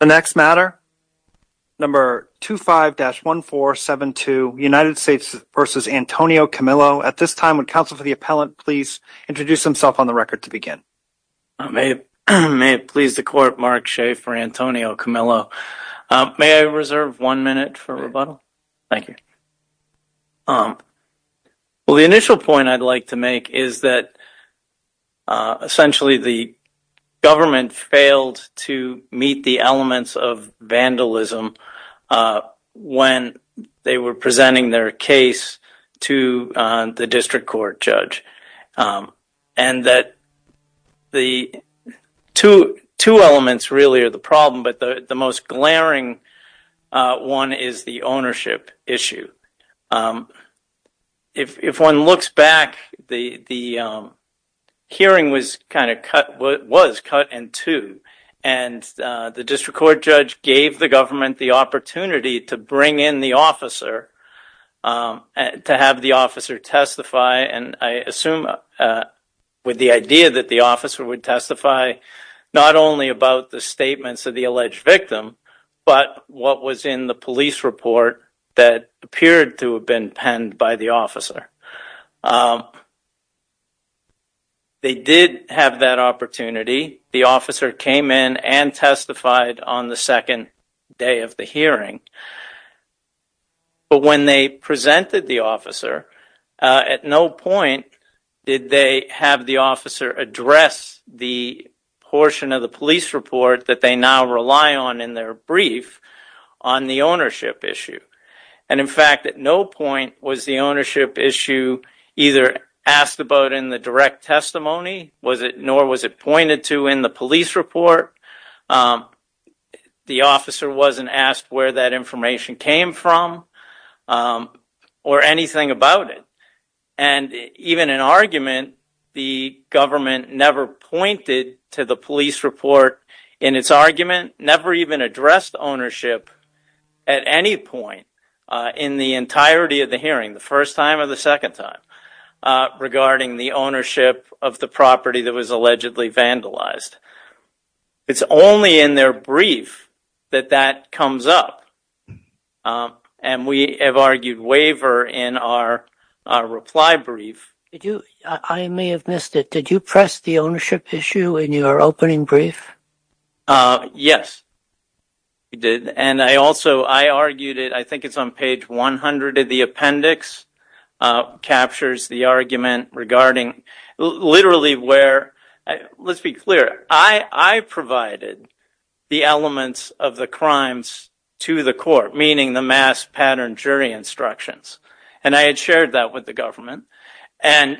The next matter, number 25-1472, United States v. Antonio Camillo. At this time, would counsel for the appellant please introduce himself on the record to begin. May it please the court, Mark Shea for Antonio Camillo. May I reserve one minute for rebuttal? Thank you. Well, the initial point I'd like to make is that essentially the government failed to meet the elements of vandalism when they were presenting their case to the district court judge. And that the two elements really are the problem, but the most glaring one is the ownership issue. If one looks back, the hearing was cut in two, and the district court judge gave the government the opportunity to bring in the officer to have the officer testify. And I assume with the idea that the officer would testify not only about the statements of the alleged victim, but what was in the police report that appeared to have been penned by the officer. They did have that opportunity. The officer came in and testified on the second day of the hearing. But when they presented the officer, at no point did they have the officer address the portion of the police report that they now rely on in their brief on the ownership issue. And in fact, at no point was the ownership issue either asked about in the direct testimony, nor was it pointed to in the police report. The officer wasn't asked where that information came from, or anything about it. And even in argument, the government never pointed to the police report in its argument, never even addressed ownership at any point in the entirety of the hearing, the first time or the second time, regarding the ownership of the property that was allegedly vandalized. It's only in their brief that that comes up. And we have argued waiver in our reply brief. I may have missed it. Did you press the ownership issue in your opening brief? Yes, we did. And I also, I argued it, I think it's on page 100 of the appendix, captures the argument regarding literally where, let's be clear, I provided the elements of the crimes to the court, meaning the mass pattern jury instructions. And I had shared that with the government. And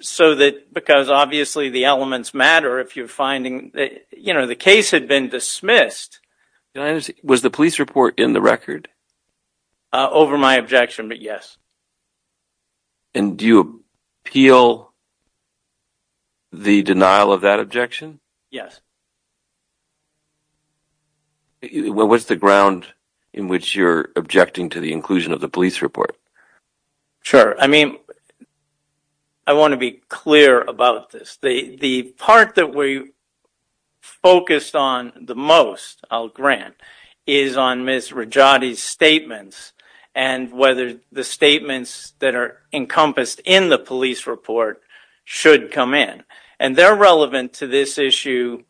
so that, because obviously the elements matter if you're finding, you know, the case had been dismissed. Was the police report in the record? Over my objection, but yes. And do you appeal the denial of that objection? Yes. What's the ground in which you're objecting to the inclusion of the police report? Sure. I mean, I want to be clear about this. The part that we focused on the most, I'll grant, is on Ms. Rajati's statements and whether the statements that are encompassed in the police report should come in. And they're relevant to this issue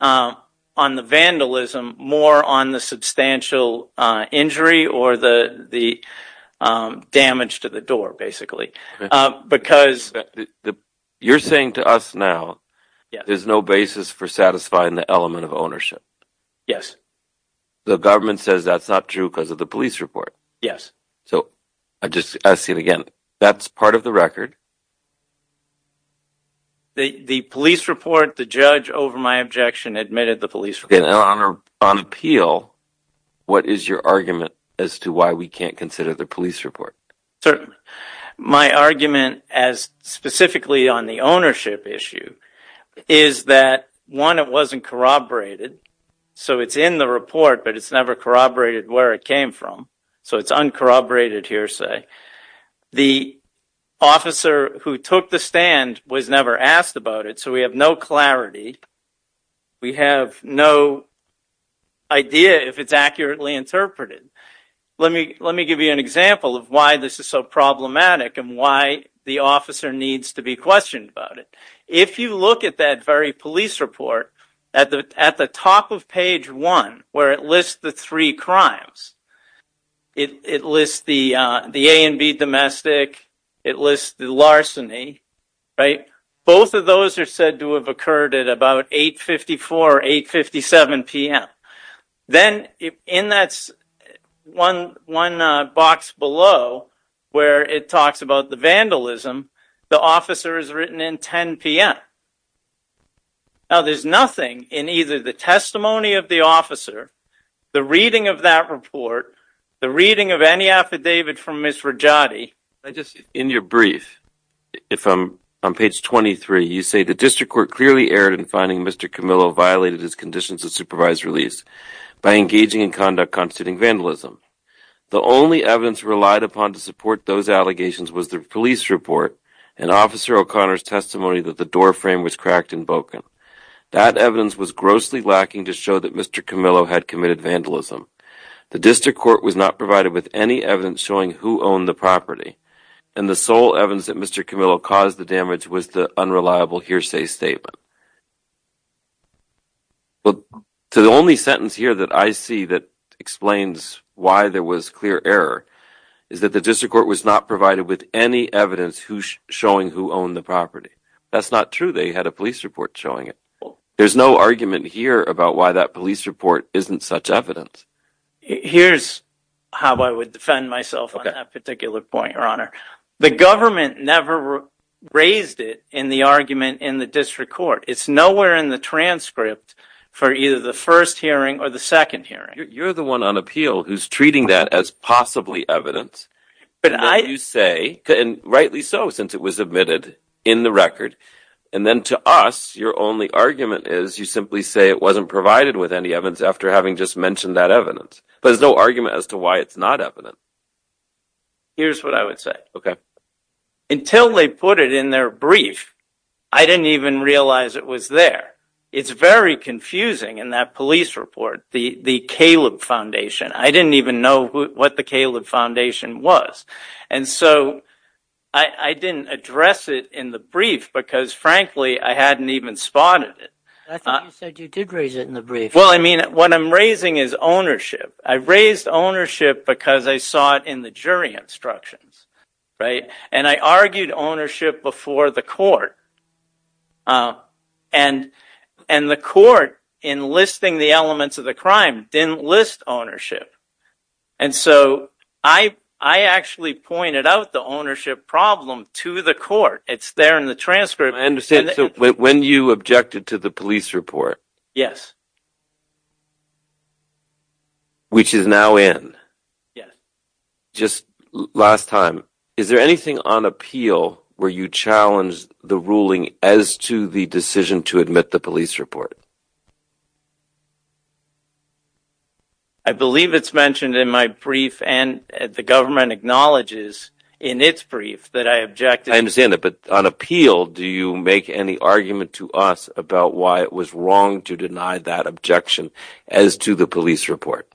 on the vandalism more on the substantial injury or the damage to the door, basically. You're saying to us now, there's no basis for satisfying the element of ownership. Yes. The government says that's not true because of the police report. Yes. So, I'm just asking again, that's part of the record? The police report, the judge, over my objection, admitted the police report. And on appeal, what is your argument as to why we can't consider the police report? My argument as specifically on the ownership issue is that, one, it wasn't corroborated. So, it's in the report, but it's never corroborated where it came from. So, it's uncorroborated hearsay. The officer who took the stand was never asked about it. So, we have no clarity. We have no idea if it's accurately interpreted. Let me give you an example of why this is so problematic and why the officer needs to be questioned about it. If you look at that very police report, at the top of page one, where it lists the three crimes, it lists the A&B domestic. It lists the larceny, right? Both of those are said to have occurred at about 8.54, 8.57 p.m. Then, in that one box below, where it talks about the vandalism, the officer is written in 10.00 p.m. Now, there's nothing in either the testimony of the officer, the reading of that report, the reading of any affidavit from Ms. Rajati. In your brief, on page 23, you say, The District Court clearly erred in finding Mr. Camillo violated his conditions of supervised release by engaging in conduct constituting vandalism. The only evidence relied upon to support those allegations was the police report and Officer O'Connor's testimony that the door frame was cracked and broken. That evidence was grossly lacking to show that Mr. Camillo had committed vandalism. The District Court was not provided with any evidence showing who owned the property, and the sole evidence that Mr. Camillo caused the damage was the unreliable hearsay statement. The only sentence here that I see that explains why there was clear error is that the District Court was not provided with any evidence showing who owned the property. That's not true. They had a police report showing it. There's no argument here about why that police report isn't such evidence. Here's how I would defend myself on that particular point, Your Honor. The government never raised it in the argument in the District Court. It's nowhere in the transcript for either the first hearing or the second hearing. You're the one on appeal who's treating that as possibly evidence. And rightly so, since it was admitted in the record. And then to us, your only argument is you simply say it wasn't provided with any evidence after having just mentioned that evidence. But there's no argument as to why it's not evidence. Here's what I would say. Until they put it in their brief, I didn't even realize it was there. It's very confusing in that police report, the Caleb Foundation. I didn't even know what the Caleb Foundation was. And so I didn't address it in the brief because, frankly, I hadn't even spotted it. I thought you said you did raise it in the brief. Well, I mean, what I'm raising is ownership. I raised ownership because I saw it in the jury instructions, right? And I argued ownership before the court. And the court, in listing the elements of the crime, didn't list ownership. And so I actually pointed out the ownership problem to the court. It's there in the transcript. I understand. So when you objected to the police report. Yes. Which is now in. Yes. Just last time, is there anything on appeal where you challenged the ruling as to the decision to admit the police report? I believe it's mentioned in my brief and the government acknowledges in its brief that I objected. I understand that. But on appeal, do you make any argument to us about why it was wrong to deny that objection as to the police report?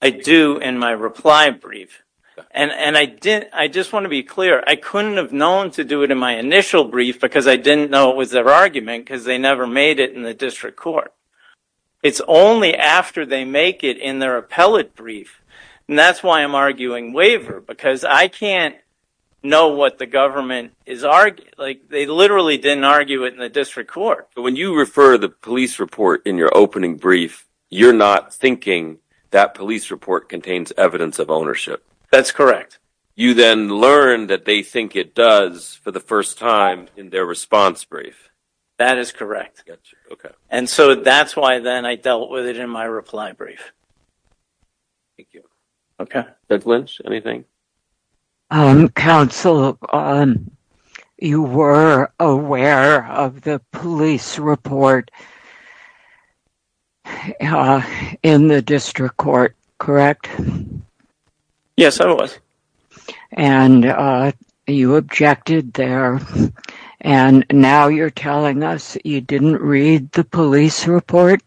I do in my reply brief. And I did. I just want to be clear. I couldn't have known to do it in my initial brief because I didn't know it was their argument because they never made it in the district court. It's only after they make it in their appellate brief. And that's why I'm arguing waiver, because I can't know what the government is arguing. They literally didn't argue it in the district court. When you refer the police report in your opening brief, you're not thinking that police report contains evidence of ownership. That's correct. You then learn that they think it does for the first time in their response brief. That is correct. Okay. And so that's why then I dealt with it in my reply brief. Thank you. Okay. Judge Lynch, anything? Counsel, you were aware of the police report in the district court, correct? Yes, I was. And you objected there. And now you're telling us you didn't read the police report?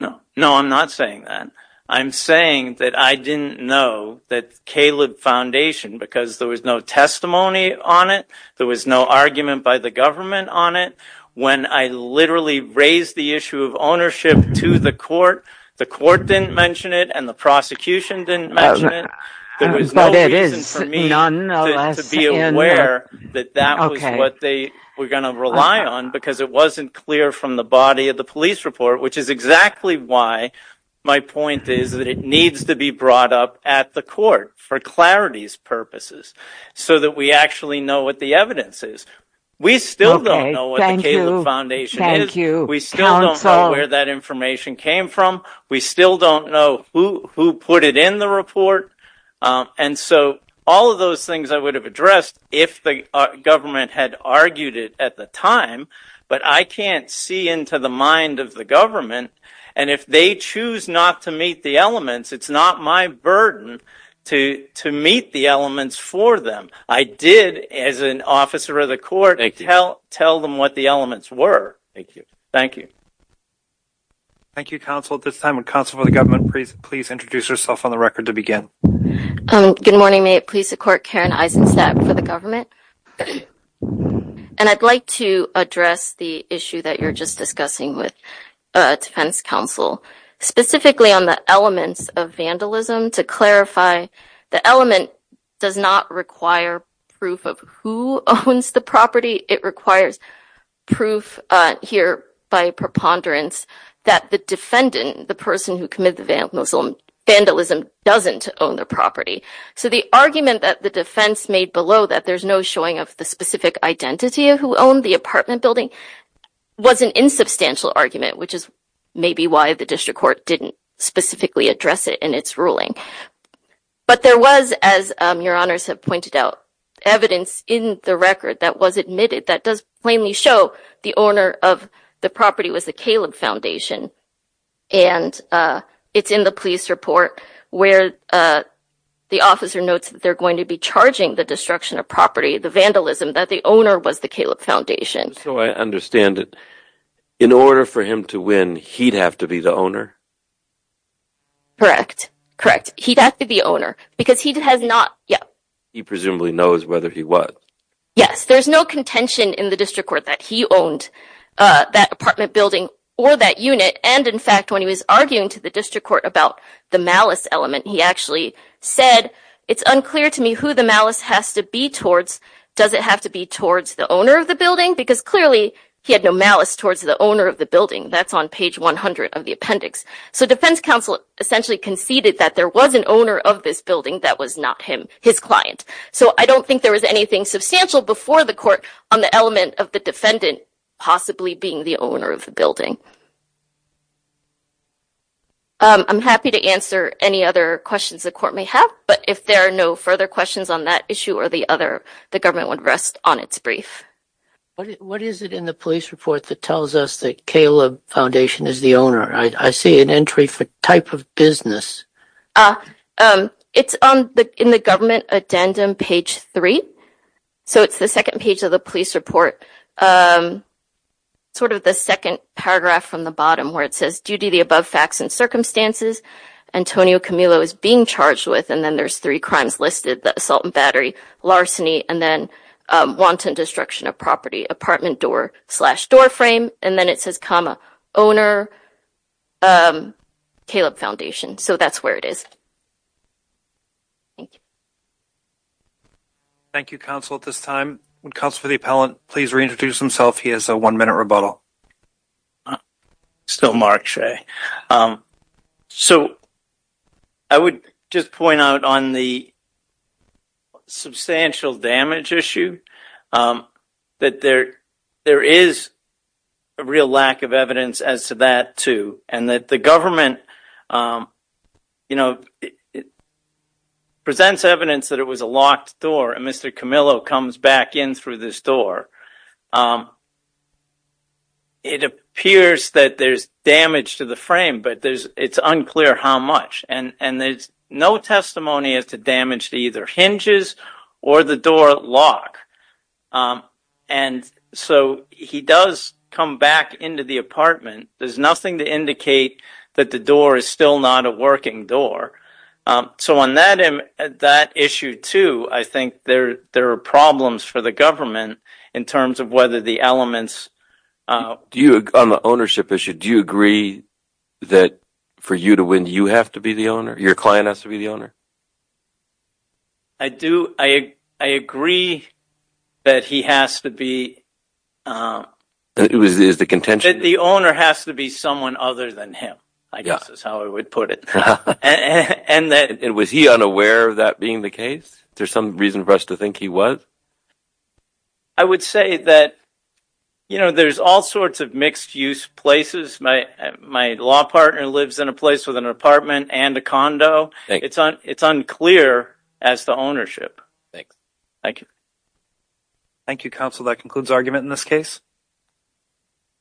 No, I'm not saying that. I'm saying that I didn't know that Caleb Foundation, because there was no testimony on it, there was no argument by the government on it. When I literally raised the issue of ownership to the court, the court didn't mention it and the prosecution didn't mention it. There was no reason for me to be aware that that was what they were going to rely on because it wasn't clear from the body of the police report. Which is exactly why my point is that it needs to be brought up at the court for clarity's purposes so that we actually know what the evidence is. We still don't know what the Caleb Foundation is. We still don't know where that information came from. We still don't know who put it in the report. And so all of those things I would have addressed if the government had argued it at the time. But I can't see into the mind of the government, and if they choose not to meet the elements, it's not my burden to meet the elements for them. I did, as an officer of the court, tell them what the elements were. Thank you. Thank you. Counsel for the government, please introduce yourself on the record to begin. Good morning. May it please the court, Karen Eisenstadt for the government. And I'd like to address the issue that you're just discussing with defense counsel. Specifically on the elements of vandalism, to clarify, the element does not require proof of who owns the property. It requires proof here by preponderance that the defendant, the person who committed the vandalism, doesn't own the property. So the argument that the defense made below that there's no showing of the specific identity of who owned the apartment building was an insubstantial argument, which is maybe why the district court didn't specifically address it in its ruling. But there was, as your honors have pointed out, evidence in the record that was admitted that does plainly show the owner of the property was the Caleb Foundation. And it's in the police report where the officer notes that they're going to be charging the destruction of property, the vandalism, that the owner was the Caleb Foundation. So I understand that in order for him to win, he'd have to be the owner? Correct. Correct. He'd have to be owner because he has not yet. He presumably knows whether he was. Yes. There's no contention in the district court that he owned that apartment building or that unit. And in fact, when he was arguing to the district court about the malice element, he actually said, it's unclear to me who the malice has to be towards. Does it have to be towards the owner of the building? Because clearly he had no malice towards the owner of the building. That's on page 100 of the appendix. So defense counsel essentially conceded that there was an owner of this building that was not him, his client. So I don't think there was anything substantial before the court on the element of the defendant possibly being the owner of the building. I'm happy to answer any other questions the court may have. But if there are no further questions on that issue or the other, the government would rest on its brief. What is it in the police report that tells us that Caleb Foundation is the owner? I see an entry for type of business. It's in the government addendum, page three. So it's the second page of the police report. Sort of the second paragraph from the bottom where it says, due to the above facts and circumstances, Antonio Camilo is being charged with, and then there's three crimes listed, the assault and battery, larceny, and then wanton destruction of property, apartment door slash doorframe. And then it says, comma, owner Caleb Foundation. So that's where it is. Thank you, counsel. At this time, counsel for the appellant, please reintroduce himself. He has a one minute rebuttal. Still Mark Shea. So. I would just point out on the. Substantial damage issue that there there is. A real lack of evidence as to that, too, and that the government. Presents evidence that it was a locked door and Mr. Camillo comes back in through this door. It appears that there's damage to the frame, but there's it's unclear how much. And there's no testimony as to damage to either hinges or the door lock. And so he does come back into the apartment. There's nothing to indicate that the door is still not a working door. So on that issue, too, I think there are problems for the government in terms of the in terms of whether the elements do you on the ownership issue, do you agree that for you to win, you have to be the owner. Your client has to be the owner. I do. I agree that he has to be. It was the contention that the owner has to be someone other than him, I guess is how I would put it. And that it was he unaware of that being the case. There's some reason for us to think he was. I would say that, you know, there's all sorts of mixed use places. My my law partner lives in a place with an apartment and a condo. It's it's unclear as to ownership. Thanks. Thank you. Thank you, counsel. That concludes argument in this case.